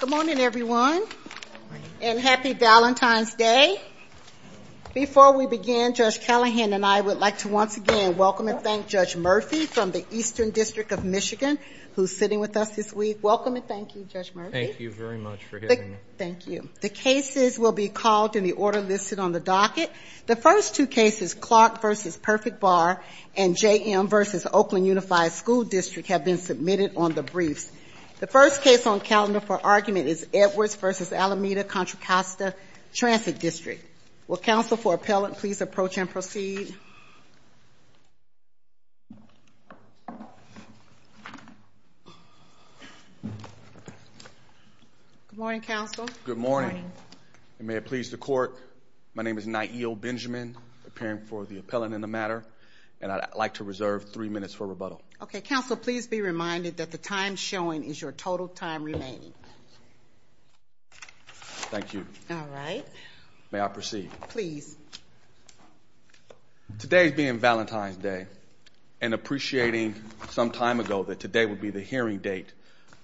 Good morning, everyone, and happy Valentine's Day. Before we begin, Judge Callahan and I would like to once again welcome and thank Judge Murphy from the Eastern District of Michigan, who's sitting with us this week. Welcome and thank you, Judge Murphy. Thank you very much for having me. Thank you. The cases will be called in the order listed on the docket. The first two cases, Clark v. Perfect Bar and JM v. Oakland Unified School District, have been submitted on the docket. The first case on calendar for argument is Edwards v. Alameda-Contra Costa Transit District. Will counsel for appellant please approach and proceed? Good morning, counsel. Good morning. And may it please the court, my name is Nyeo Benjamin, appearing for the appellant in the matter, and I'd like to reserve three minutes for rebuttal. Okay, counsel, please be reminded that the time showing is your total time remaining. Thank you. All right. May I proceed? Please. Today's being Valentine's Day, and appreciating some time ago that today would be the hearing date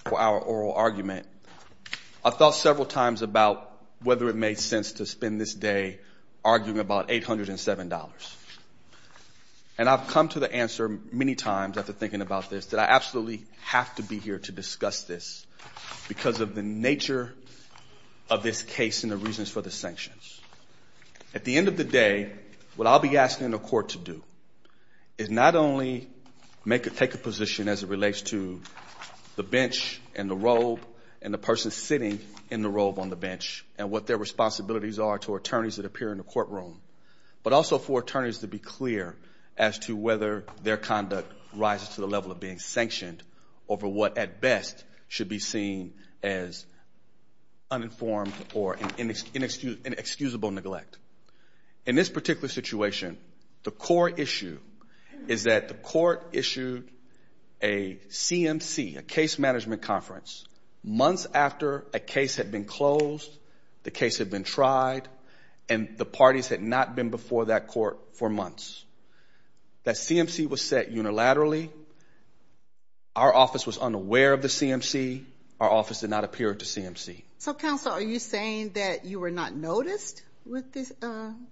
for our oral argument, I've thought several times about whether it made sense to spend this day arguing about $807. And I've come to the answer many times after thinking about this that I absolutely have to be here to discuss this because of the nature of this case and the reasons for the sanctions. At the end of the day, what I'll be asking the court to do is not only take a position as it relates to the bench and the robe and the person sitting in the robe on the bench and what their responsibilities are to attorneys that appear in the courtroom, but also for attorneys to be clear as to whether their conduct rises to the level of being sanctioned over what at best should be seen as uninformed or inexcusable neglect. In this particular situation, the core issue is that the court issued a CMC, a case management conference, months after a case had been closed, the case had been tried, and the parties had not been before that court for months. That our office was unaware of the CMC. Our office did not appear to CMC. So counsel, are you saying that you were not noticed with this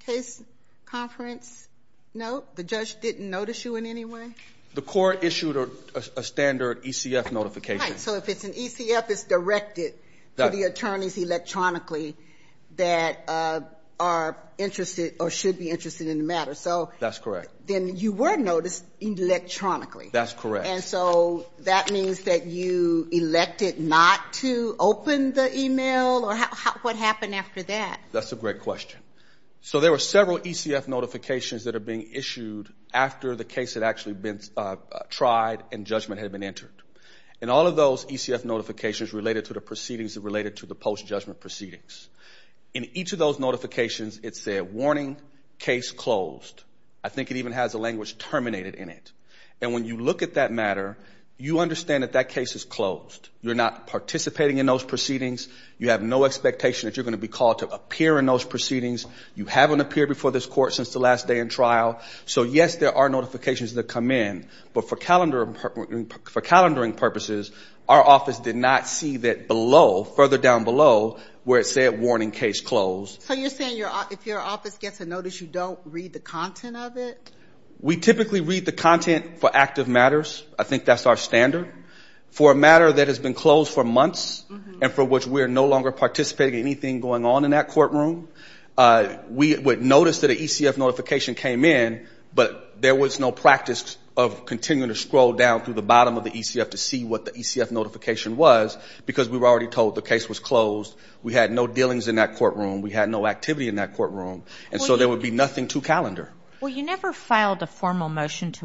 case conference? No, the judge didn't notice you in any way. The court issued a standard ECF notification. So if it's an ECF is directed to the attorneys electronically that are interested or should be interested in the matter. So that's correct. And so that means that you elected not to open the email or what happened after that? That's a great question. So there were several ECF notifications that are being issued after the case had actually been tried and judgment had been entered. And all of those ECF notifications related to the proceedings that related to the post-judgment proceedings. In each of those notifications, it said, warning, case closed. I think it even has a statement that said, warning, case closed. So when you look at that matter, you understand that that case is closed. You're not participating in those proceedings. You have no expectation that you're going to be called to appear in those proceedings. You haven't appeared before this court since the last day in trial. So yes, there are notifications that come in. But for calendaring purposes, our office did not see that below, further down below, where it said, warning, case closed. So you're saying if your office gets a notice, you don't read the content of it? We typically read the content for active matters. I think that's our standard. For a matter that has been closed for months and for which we are no longer participating in anything going on in that courtroom, we would notice that an ECF notification came in, but there was no practice of continuing to scroll down through the bottom of the ECF to see what the ECF notification was, because we were already told the case was closed. We had no dealings in that courtroom. We had no activity in that courtroom. And so there would be nothing to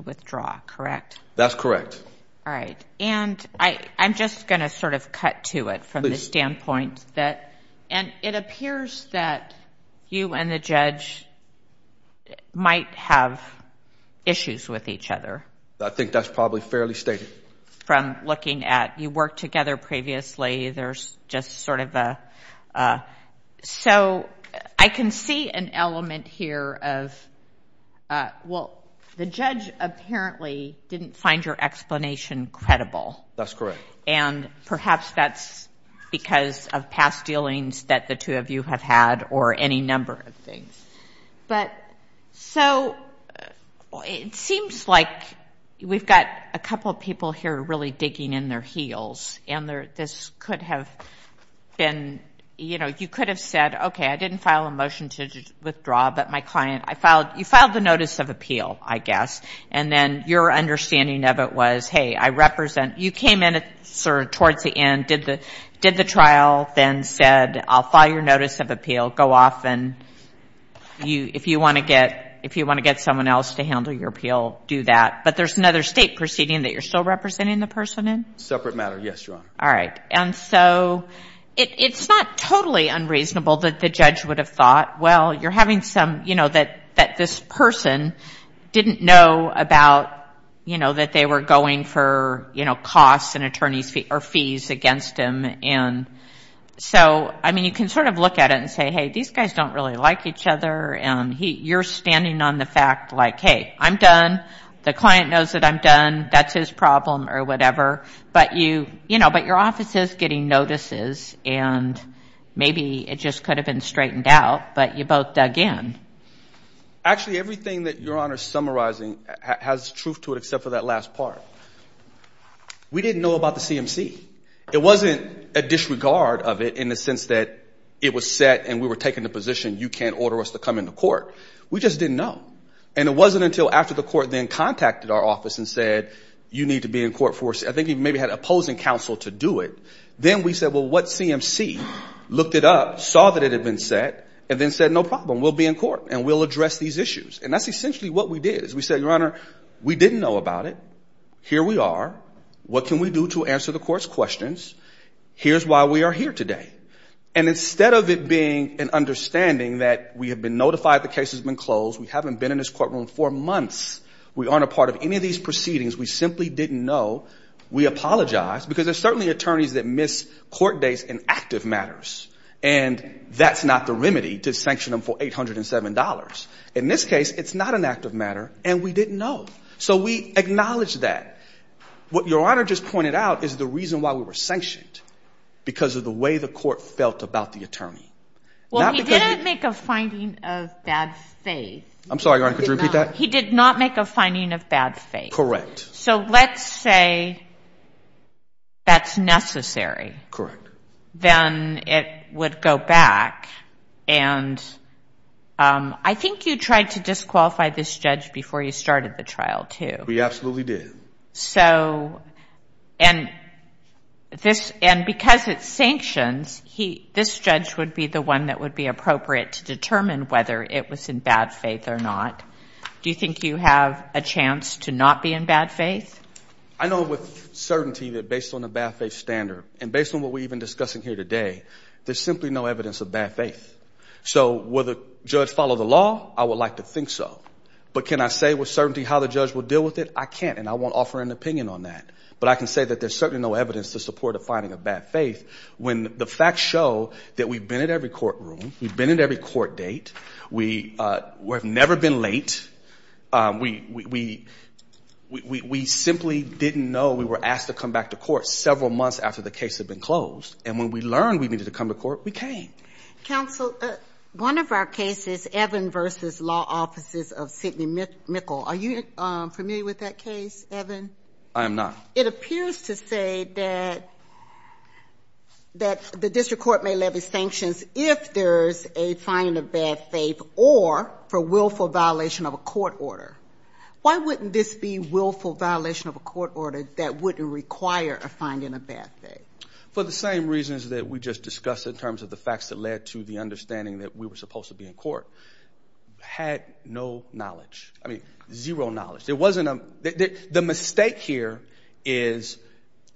withdraw, correct? That's correct. All right. And I'm just going to sort of cut to it from the standpoint that, and it appears that you and the judge might have issues with each other. I think that's probably fairly stated. From looking at, you worked together previously, there's just sort of a... So I can see an element here of, well, the judge apparently didn't find your explanation credible. That's correct. And perhaps that's because of past dealings that the two of you have had or any number of things. But so it seems like we've got a couple of people here really digging in their heels, and this could have been, you know, you could have said, okay, I didn't file a motion to withdraw, but my client, I filed, you filed the notice of appeal, I guess. And then your understanding of it was, hey, I represent, you came in sort of towards the end, did the trial, then said, I'll file your notice of appeal, go off and you, if you want to get someone else to handle your appeal, do that. But there's another state proceeding that you're still representing the person in? Separate matter, yes, Your Honor. All right. And so it's not totally unreasonable that the judge would have thought, well, you're having some, you know, that this person didn't know about, you know, that they were going for, you know, costs and attorneys or fees against him. And so, I mean, you can sort of look at it and say, hey, these guys don't really like each other. And you're standing on the fact like, hey, I'm done. The client knows that I'm done. That's his problem or whatever. But you, you know, but your office is getting notices and maybe it just could have been straightened out, but you both dug in. Actually, everything that Your Honor's summarizing has truth to it, except for that last part. We didn't know about the CMC. It wasn't a disregard of it in the sense that it was set and we were taken to position, you can't order us to come into court. We just didn't know. And it wasn't until after the court then contacted our office and said, you need to be in court for, I think he maybe had opposing counsel to do it. Then we said, well, what CMC? Looked it up, saw that it had been set, and then said, no problem, we'll be in court and we'll address these issues. And that's essentially what we did is we said, Your Honor, we didn't know about it. Here we are. What can we do to answer the court's questions? Here's why we are here today. And instead of it being an notified the case has been closed, we haven't been in this courtroom for months. We aren't a part of any of these proceedings. We simply didn't know. We apologize because there's certainly attorneys that miss court dates in active matters. And that's not the remedy to sanction them for $807. In this case, it's not an active matter and we didn't know. So we acknowledge that. What Your Honor just pointed out is the reason why we were sanctioned because of the way the court felt about the attorney. Well, we didn't make a finding of bad faith. I'm sorry, Your Honor, could you repeat that? He did not make a finding of bad faith. Correct. So let's say that's necessary. Correct. Then it would go back. And I think you tried to disqualify this judge before you started the trial too. We absolutely did. So... And because it's sanctions, this judge would be the one that would be appropriate to determine whether it was in bad faith or not. Do you think you have a chance to not be in bad faith? I know with certainty that based on the bad faith standard and based on what we're even discussing here today, there's simply no evidence of bad faith. So will the judge follow the law? I would like to think so. But can I say with certainty how the judge will deal with it? I can't and I won't offer an opinion on that. But I can say that there's certainly no evidence to support a finding of bad faith when the facts show that we've been at every courtroom, we've been at every court date, we've never been late, we simply didn't know we were asked to come back to court several months after the case had been closed. And when we learned we needed to come to court, we came. Counsel, one of our cases, Evan versus Law Offices of Sidney Mickle, are you familiar with that case, Evan? I am not. It appears to say that the district court may levy sanctions if there's a finding of bad faith or for willful violation of a court order. Why wouldn't this be willful violation of a court order that wouldn't require a finding of bad faith? For the same reasons that we just discussed in terms of the facts that led to the understanding that we were supposed to be in court. Had no knowledge. I mean, zero knowledge. There wasn't a... The mistake here is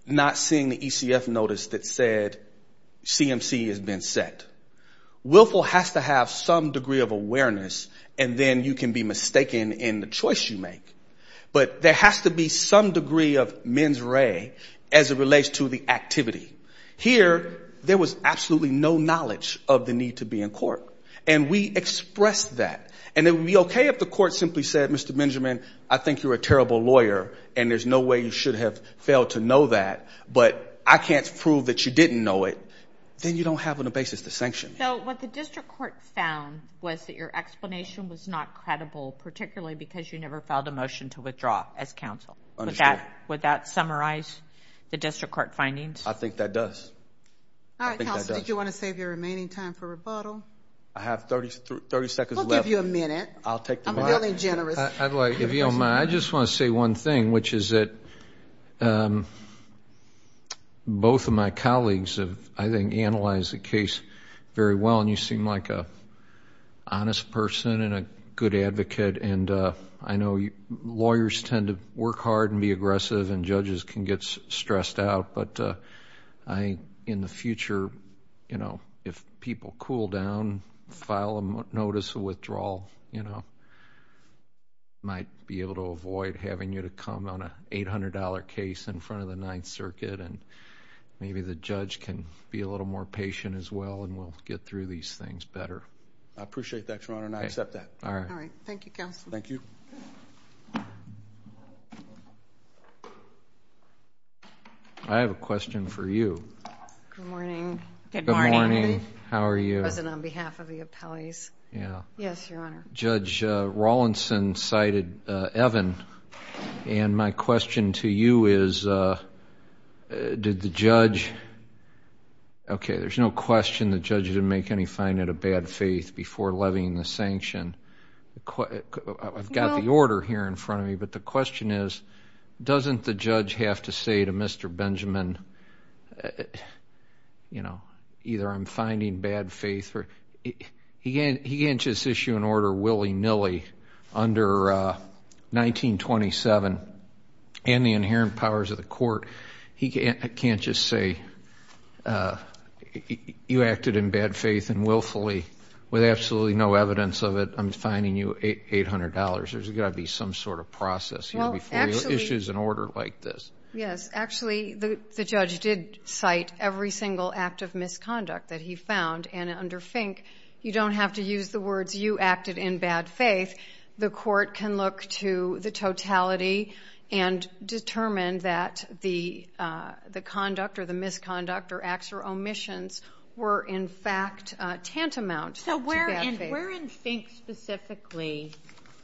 not seeing the ECF notice that said CMC has been set. Willful has to have some degree of awareness, and then you can be mistaken in the choice you make. But there has to be some degree of mens re as it relates to the activity. Here, there was absolutely no knowledge of the need to be in court, and we expressed that. And it would be okay if the court simply said, Mr. Benjamin, I think you're a terrible lawyer, and there's no way you should have failed to know that, but I can't prove that you didn't know it. Then you don't have a basis to sanction. So what the district court found was that your explanation was not credible, particularly because you never filed a motion to withdraw as counsel. Understood. Would that summarize the district court findings? I think that does. All right, Counselor, did you want to save your remaining time for rebuttal? I have 30 seconds left. We'll give you a minute. I'll take the one thing, which is that both of my colleagues have, I think, analyzed the case very well, and you seem like an honest person and a good advocate. And I know lawyers tend to work hard and be aggressive, and judges can get stressed out, but I, in the future, if people cool down, file a notice of withdrawal, I might be able to avoid having you to come on an $800 case in front of the Ninth Circuit, and maybe the judge can be a little more patient as well, and we'll get through these things better. I appreciate that, Your Honor, and I accept that. All right. All right. Thank you, Counselor. Thank you. I have a question for you. Good morning. Good morning. Good morning. How are you? Present on behalf of the appellees. Yeah. Yes, Your Honor. Judge Rawlinson cited Evan, and my question to you is, did the judge... Okay, there's no question the judge didn't make any fine out of bad faith before levying the sanction. I've got the order here in front of me, but the question is, doesn't the judge have to say to Mr. Benjamin, either I'm finding bad faith or... He can't just issue an order willy nilly under 1927 and the inherent powers of the court. He can't just say, you acted in bad faith and willfully, with absolutely no evidence of it, I'm fining you $800. There's got to be some sort of process here before you issue an order like this. Yes. Actually, the judge did cite every single act of misconduct that he found, and under Fink, you don't have to use the words, you acted in bad faith. The court can look to the totality and determine that the conduct or the misconduct or acts or omissions were in fact tantamount to bad faith. So where in Fink specifically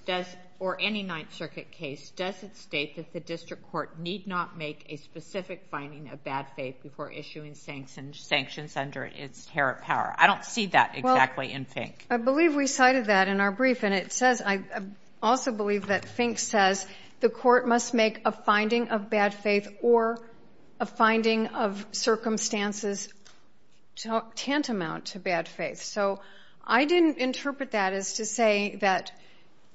does, or any Ninth Circuit case, does it state that the district court need not make a specific finding of bad faith before issuing sanctions under its inherent power? I don't see that exactly in Fink. I believe we cited that in our brief, and it says, I also believe that Fink says the court must make a finding of bad faith or a finding of circumstances tantamount to bad faith. So I didn't interpret that as to say that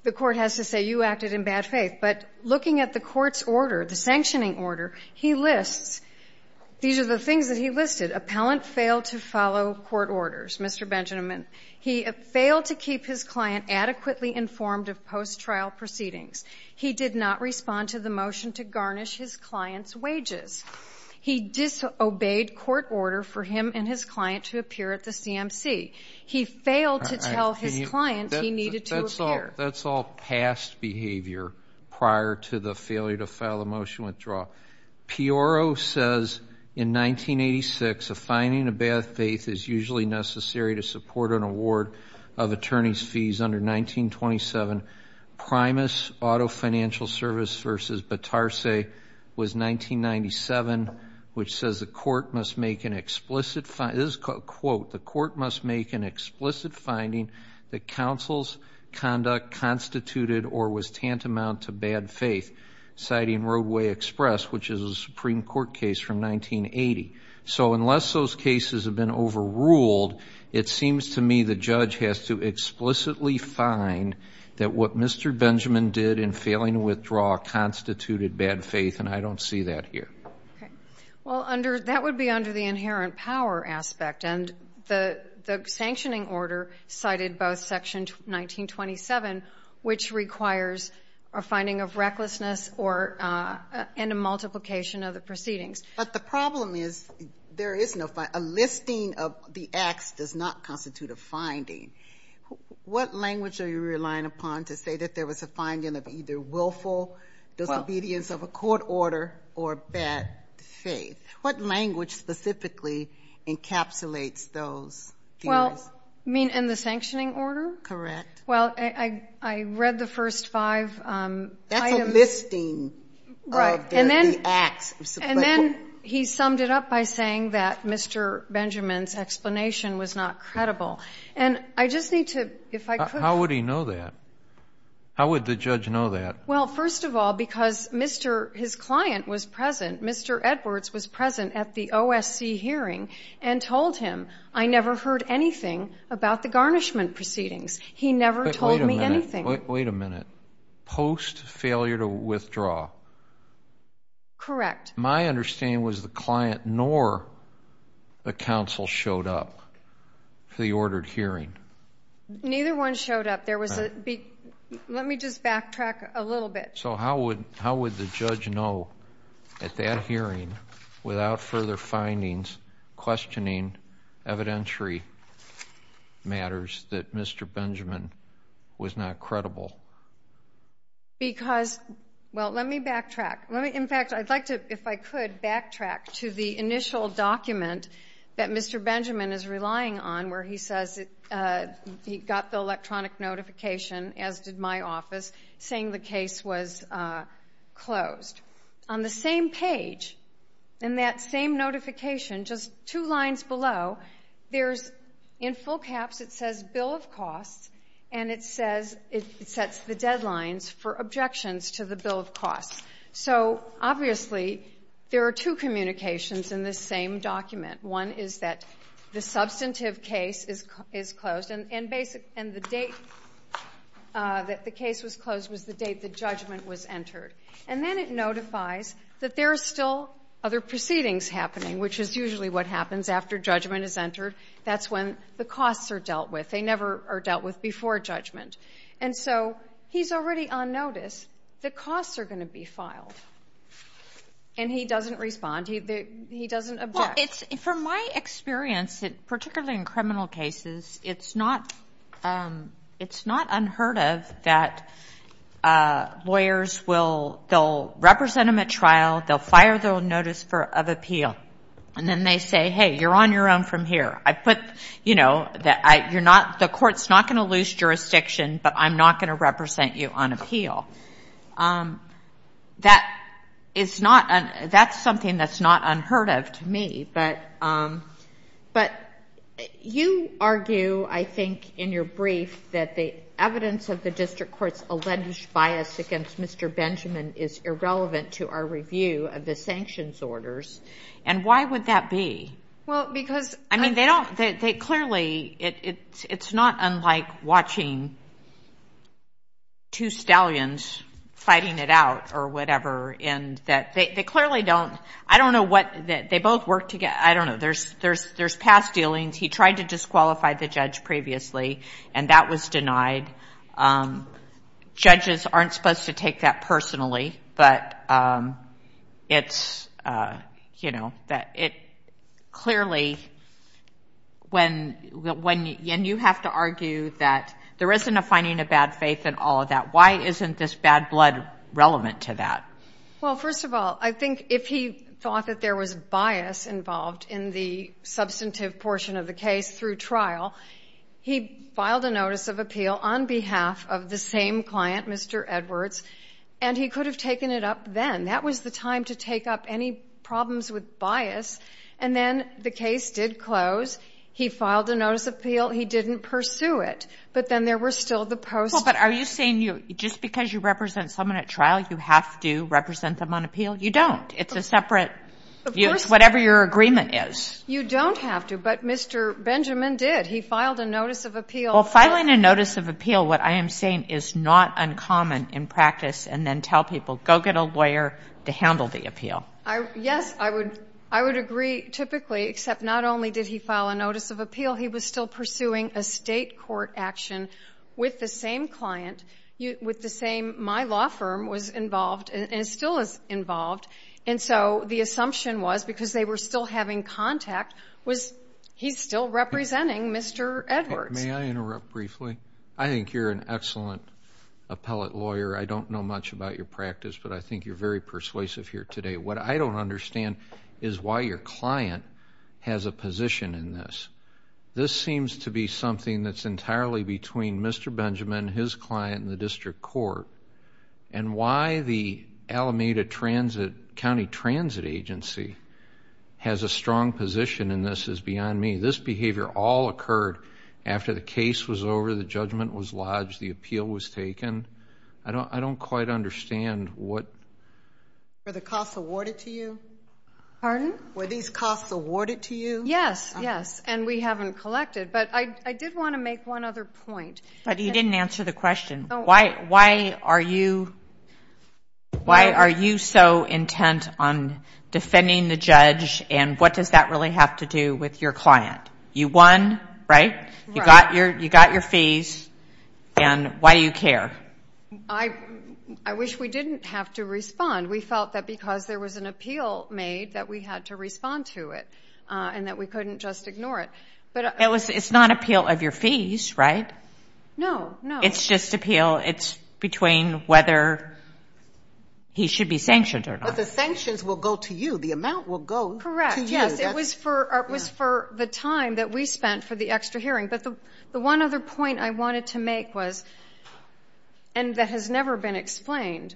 the court has to say you acted in bad faith. But looking at the court's order, the sanctioning order, he lists, these are the things that he listed. Appellant failed to follow court orders, Mr. Benjamin. He failed to keep his client adequately informed of post-trial proceedings. He did not respond to the motion to garnish his client's wages. He disobeyed court order for him and his client to appear at the CMC. He failed to tell his client he needed to appear. That's all past behavior prior to the failure to file a motion withdrawal. Pioro says in 1986, a finding of bad faith is usually necessary to support an award of attorney's fees under 1927. Primus Auto Financial Service v. Batarseh was 1997, which says the court must make an explicit quote, the court must make an explicit finding that counsel's conduct constituted or was tantamount to bad faith, citing Roadway Express, which is a Supreme Court case from 1980. So unless those cases have been overruled, it seems to me the judge has to explicitly find that what Mr. Benjamin did in failing to withdraw constituted bad faith, and I don't see that here. Well, that would be under the inherent power aspect, and the sanctioning order cited both Section 1927, which requires a finding of recklessness and a multiplication of the proceedings. But the problem is, there is no finding. A listing of the acts does not constitute a finding. What language are you relying upon to say that there was a finding of either willful disobedience of a court order or bad faith? What language specifically encapsulates those? Well, you mean in the sanctioning order? Correct. Well, I read the first five items. That's a listing of the acts. And then he summed it up by saying that Mr. Benjamin's explanation was not credible. And I just need to, if I could. How would he know that? How would the judge know that? Well, first of all, because his client was present, Mr. Edwards was present at the OSC hearing and told him, I never heard anything about the garnishment proceedings. He never told me anything. Wait a minute. Post failure to withdraw? Correct. My understanding was the client nor the counsel showed up for the ordered hearing. Neither one showed up. Let me just backtrack a little bit. So how would, how would the judge know at that hearing without further findings questioning evidentiary matters that Mr. Benjamin was not credible? Because, well, let me backtrack. In fact, I'd like to, if I could, backtrack to the initial document that Mr. Benjamin is relying on, where he says he got the electronic notification, as did my office, saying the case was closed. On the same page, in that same notification, just two lines below, there's, in full caps, it says bill of costs, and it says, it sets the deadlines for objections to the bill of costs. So, obviously, there are two communications in this same document. One is that the substantive case is closed, and basic, and the date that the case was closed was the date the judgment was entered. And then it notifies that there are still other proceedings happening, which is usually what happens after judgment is entered. That's when the costs are dealt with. They never are dealt with before judgment. And so he's already on notice that costs are going to be filed. And he doesn't respond. He doesn't object. Well, it's, from my experience, particularly in criminal cases, it's not, it's not unheard of that lawyers will, they'll represent them at trial, they'll fire their own notice of appeal. And then they say, hey, you're on your own from here. I put, you know, you're not, the court's not going to lose jurisdiction, but I'm not going to represent you on appeal. That is not, that's something that's not unheard of to me. But, but you argue, I think, in your brief, that the evidence of the district court's alleged bias against Mr. Benjamin is irrelevant to our review of the sanctions orders. And why would that be? Well, because. I mean, they don't, they clearly, it's not unlike watching two stallions fighting it out, or whatever, in that they clearly don't, I don't know what, they both work together. I don't know. There's past dealings. He tried to disqualify the judge previously, and that was denied. Judges aren't supposed to take that personally, but it's, you know, when, and you have to argue that there isn't a finding of bad faith in all of that. Why isn't this bad blood relevant to that? Well, first of all, I think if he thought that there was bias involved in the substantive portion of the case through trial, he filed a notice of appeal on behalf of the same client, Mr. Edwards, and he used the time to take up any problems with bias, and then the case did close. He filed a notice of appeal. He didn't pursue it. But then there was still the post. Well, but are you saying just because you represent someone at trial, you have to represent them on appeal? You don't. It's a separate, it's whatever your agreement is. You don't have to, but Mr. Benjamin did. He filed a notice of appeal. Well, filing a notice of appeal, what I am saying is not uncommon in practice, and then tell people, go get a lawyer to handle the appeal. Yes, I would agree, typically, except not only did he file a notice of appeal, he was still pursuing a state court action with the same client, with the same, my law firm was involved, and still is involved, and so the assumption was, because they were still having contact, was he's still I think you're an excellent appellate lawyer. I don't know much about your practice, but I think you're very persuasive here today. What I don't understand is why your client has a position in this. This seems to be something that's entirely between Mr. Benjamin, his client, and the district court, and why the Alameda County Transit Agency has a strong position in this is beyond me. This behavior all occurred after the judgment was lodged, the appeal was taken. I don't quite understand what Were the costs awarded to you? Pardon? Were these costs awarded to you? Yes, yes, and we haven't collected, but I did want to make one other point. But you didn't answer the question. Why are you so intent on defending the judge, and what does that really have to do with your client? You won, right? You got your fees, and why do you care? I wish we didn't have to respond. We felt that because there was an appeal made that we had to respond to it, and that we couldn't just ignore it. It's not appeal of your fees, right? No, no. It's just appeal. It's between whether he should be sanctioned or not. But the sanctions will go to you. The amount will go to you. Correct. Yes, it was for the time that we spent for the extra hearing, but the one other point I wanted to make was, and that has never been explained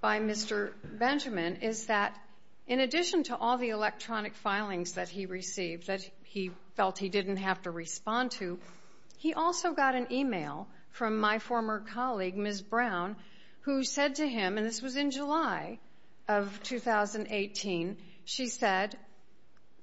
by Mr. Benjamin, is that in addition to all the electronic filings that he received that he felt he didn't have to respond to, he also got an email from my former colleague, Ms. Brown, who said to him, and this was in July of 2018, she said,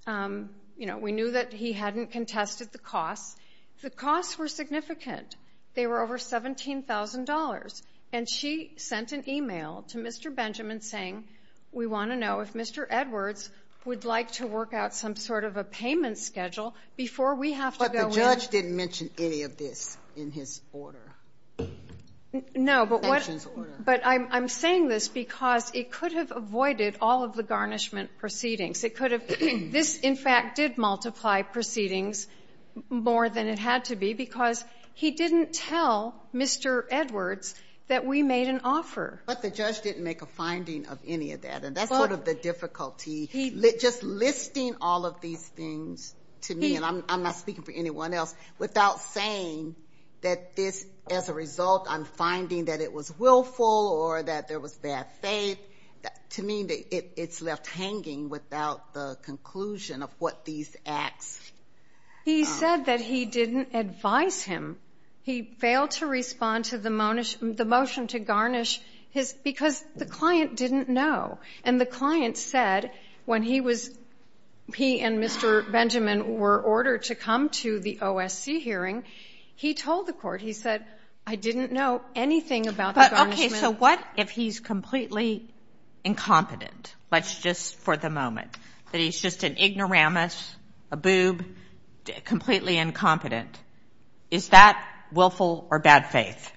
you know, we knew that he hadn't contested the costs. The costs were significant. They were over $17,000, and she sent an email to Mr. Benjamin saying, we want to know if Mr. Edwards would like to work out some sort of a payment schedule before we have to go in. But the judge didn't mention any of this in his order. No, but I'm saying this because it could have avoided all of the garnishment proceedings. It could have. This, in fact, did multiply proceedings more than it had to be because he didn't tell Mr. Edwards that we made an offer. But the judge didn't make a finding of any of that, and that's part of the difficulty. Just listing all of these things to me, and I'm not speaking for anyone else, without saying that this, as a result, I'm finding that it was willful or that there was bad faith, to me, it's left hanging without the conclusion of what these acts are. He said that he didn't advise him. He failed to respond to the motion to garnish his because the client didn't know, and the client said when he was, he and Mr. Benjamin were ordered to come to the OSC hearing, he told the court, he said, I didn't know anything about the garnishment. Okay, so what if he's completely incompetent, let's just for the moment, that he's just an ignoramus, a boob, completely incompetent. Is that willful or bad faith?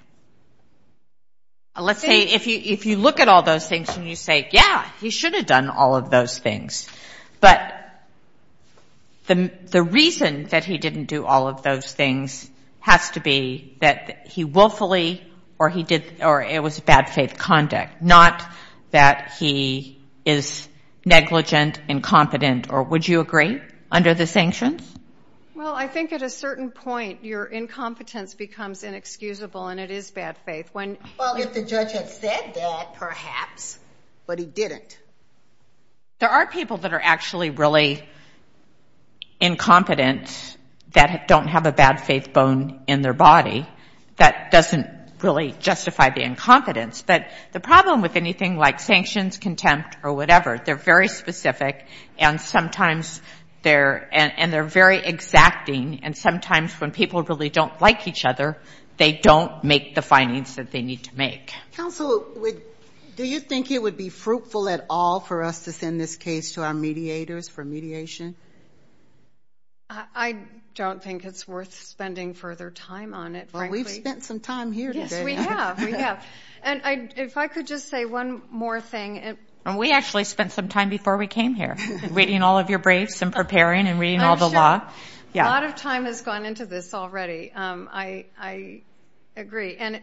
Let's say if you look at all those things and you say, yeah, he should have done all of those things, but the reason that he didn't do all of those things has to be that he willfully, or he did, or it was bad faith conduct, not that he is negligent, incompetent, or would you agree, under the sanctions? Well, I think at a certain point, your incompetence becomes inexcusable and it is bad faith. Well, if the judge had said that, perhaps, but he didn't. There are people that are actually really incompetent that don't have a bad faith bone in their body. That doesn't really justify the incompetence. But the problem with anything like sanctions, contempt, or whatever, they're very specific, and sometimes they're, and they're very exacting, and sometimes when people really don't like each other, they don't make the findings that they need to make. Counsel, do you think it would be fruitful at all for us to send this case to our mediators for mediation? I don't think it's worth spending further time on it, frankly. Well, we've spent some time here today. Yes, we have, we have. And if I could just say one more thing. And we actually spent some time before we came here, reading all of your briefs and preparing and reading all the law. I'm sure a lot of time has gone into this already. I agree. And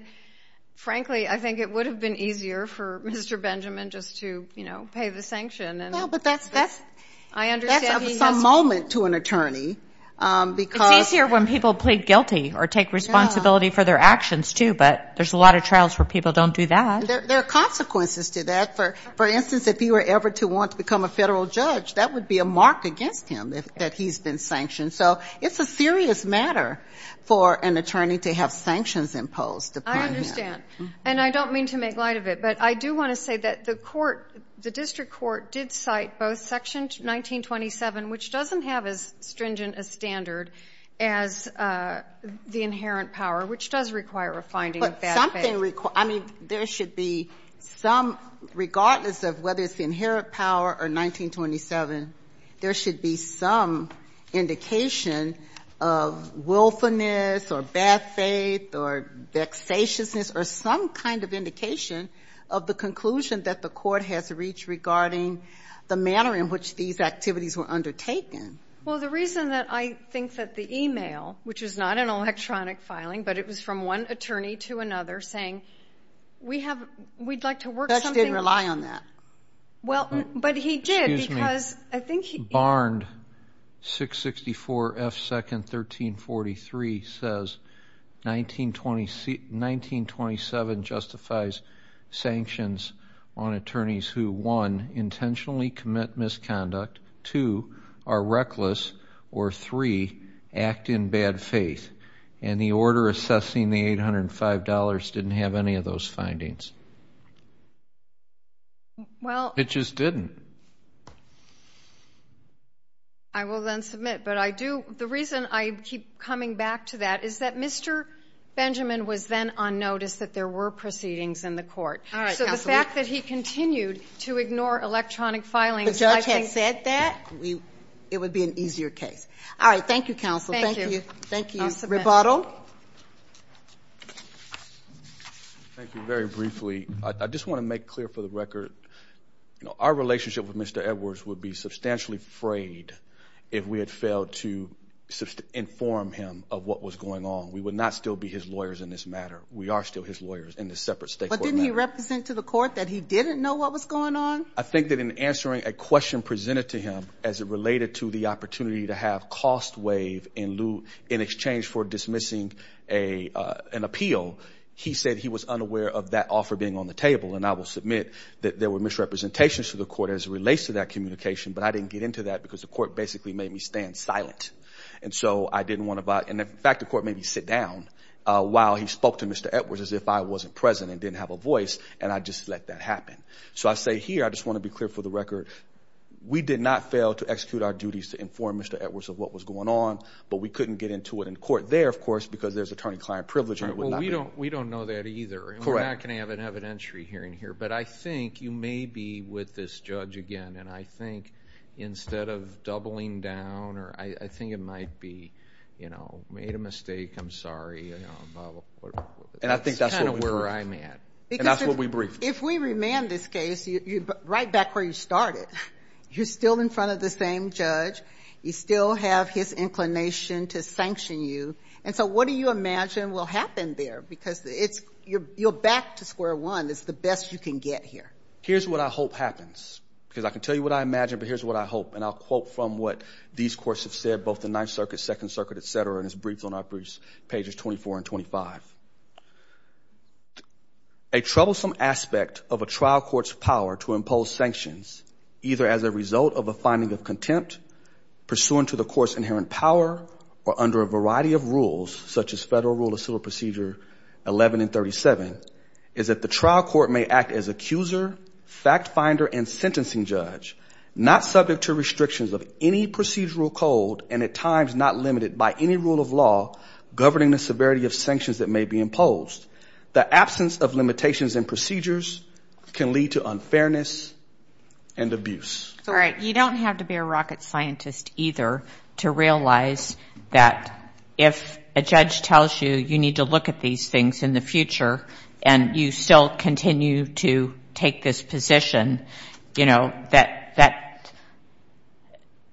frankly, I think it would have been easier for Mr. Benjamin just to, you know, pay the sanction. No, but that's up to some moment to an attorney. It's easier when people plead guilty or take responsibility for their actions, too, but there's a lot of trials where people don't do that. And there are consequences to that. For instance, if he were ever to want to become a federal judge, that would be a mark against him, that he's been sanctioned. So it's a serious matter for an attorney to have sanctions imposed upon him. I understand. And I don't mean to make light of it, but I do want to say that the court, the district court did cite both Section 1927, which doesn't have as stringent a standard as the 1927. There should be some, regardless of whether it's the inherent power or 1927, there should be some indication of willfulness or bad faith or vexatiousness or some kind of indication of the conclusion that the court has reached regarding the manner in which these activities were undertaken. Well, the reason that I think that the e-mail, which is not an electronic filing, but it was from one attorney to another saying, we'd like to work something out. Bex didn't rely on that. Well, but he did because I think he... Barnd, 664 F. 2nd, 1343 says, 1927 justifies sanctions on attorneys who, one, intentionally commit misconduct, two, are assessing the $805, didn't have any of those findings. Well... It just didn't. I will then submit. But I do, the reason I keep coming back to that is that Mr. Benjamin was then on notice that there were proceedings in the court. So the fact that he continued to ignore electronic filings, I think... The judge had said that. It would be an easier case. All right. Thank you, counsel. Thank you. Thank you. Rebottle. Thank you. Very briefly. I just want to make clear for the record, our relationship with Mr. Edwards would be substantially frayed if we had failed to inform him of what was going on. We would not still be his lawyers in this matter. We are still his lawyers in this separate state court matter. Did he represent to the court that he didn't know what was going on? I think that in answering a question presented to him as it related to the opportunity to have cost waived in lieu... In exchange for dismissing an appeal, he said he was unaware of that offer being on the table. And I will submit that there were misrepresentations to the court as it relates to that communication. But I didn't get into that because the court basically made me stand silent. And so I didn't want to... And in fact, the court made me sit down while he spoke to Mr. Edwards as if I wasn't present and didn't have a voice. And I just let that happen. So I say here, I just want to be clear for the record, we did not fail to execute our duties to inform Mr. Edwards of what was going on. But we couldn't get into it in court there, of course, because there's attorney-client privilege. We don't know that either. We're not going to have an evidentiary hearing here. But I think you may be with this judge again. And I think instead of doubling down, or I think it might be, you know, made a mistake. I'm sorry. And I think that's kind of where I'm at. And that's what we briefed. If we remand this case, right back where you started, you're still in front of the same judge. You still have his inclination to sanction you. And so what do you imagine will happen there? Because you're back to square one. It's the best you can get here. Here's what I hope happens. Because I can tell you what I imagine, but here's what I hope. And I'll quote from what these courts have said, both the Ninth Circuit, Second Circuit, et cetera, and it's briefed on our briefs, pages 24 and 25. A troublesome aspect of a trial court's power to impose sanctions, either as a result of a finding of contempt, pursuant to the court's inherent power, or under a variety of rules, such as Federal Rule of Civil Procedure 11 and 37, is that the trial court may act as accuser, fact finder, and sentencing judge, not subject to restrictions of any procedural code, and at times not limited by any rule of law governing the severity of sanctions that may be imposed. The absence of limitations in procedures can lead to unfairness and abuse. All right. You don't have to be a rocket scientist, either, to realize that if a judge tells you you need to look at these things in the future and you still continue to take this position, you know, that,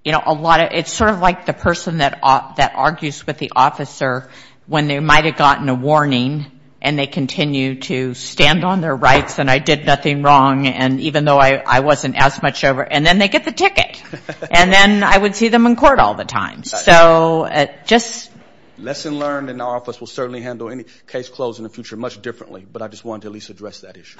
you know, a lot of, it's sort of like the person that argues with the officer when they might have gotten a warning and they continue to stand on their rights and I did nothing wrong, and even though I wasn't as much over, and then they get the ticket. And then I would see them in court all the time. So just... Lesson learned in our office will certainly handle any case closed in the future much differently, but I just wanted to at least address that issue.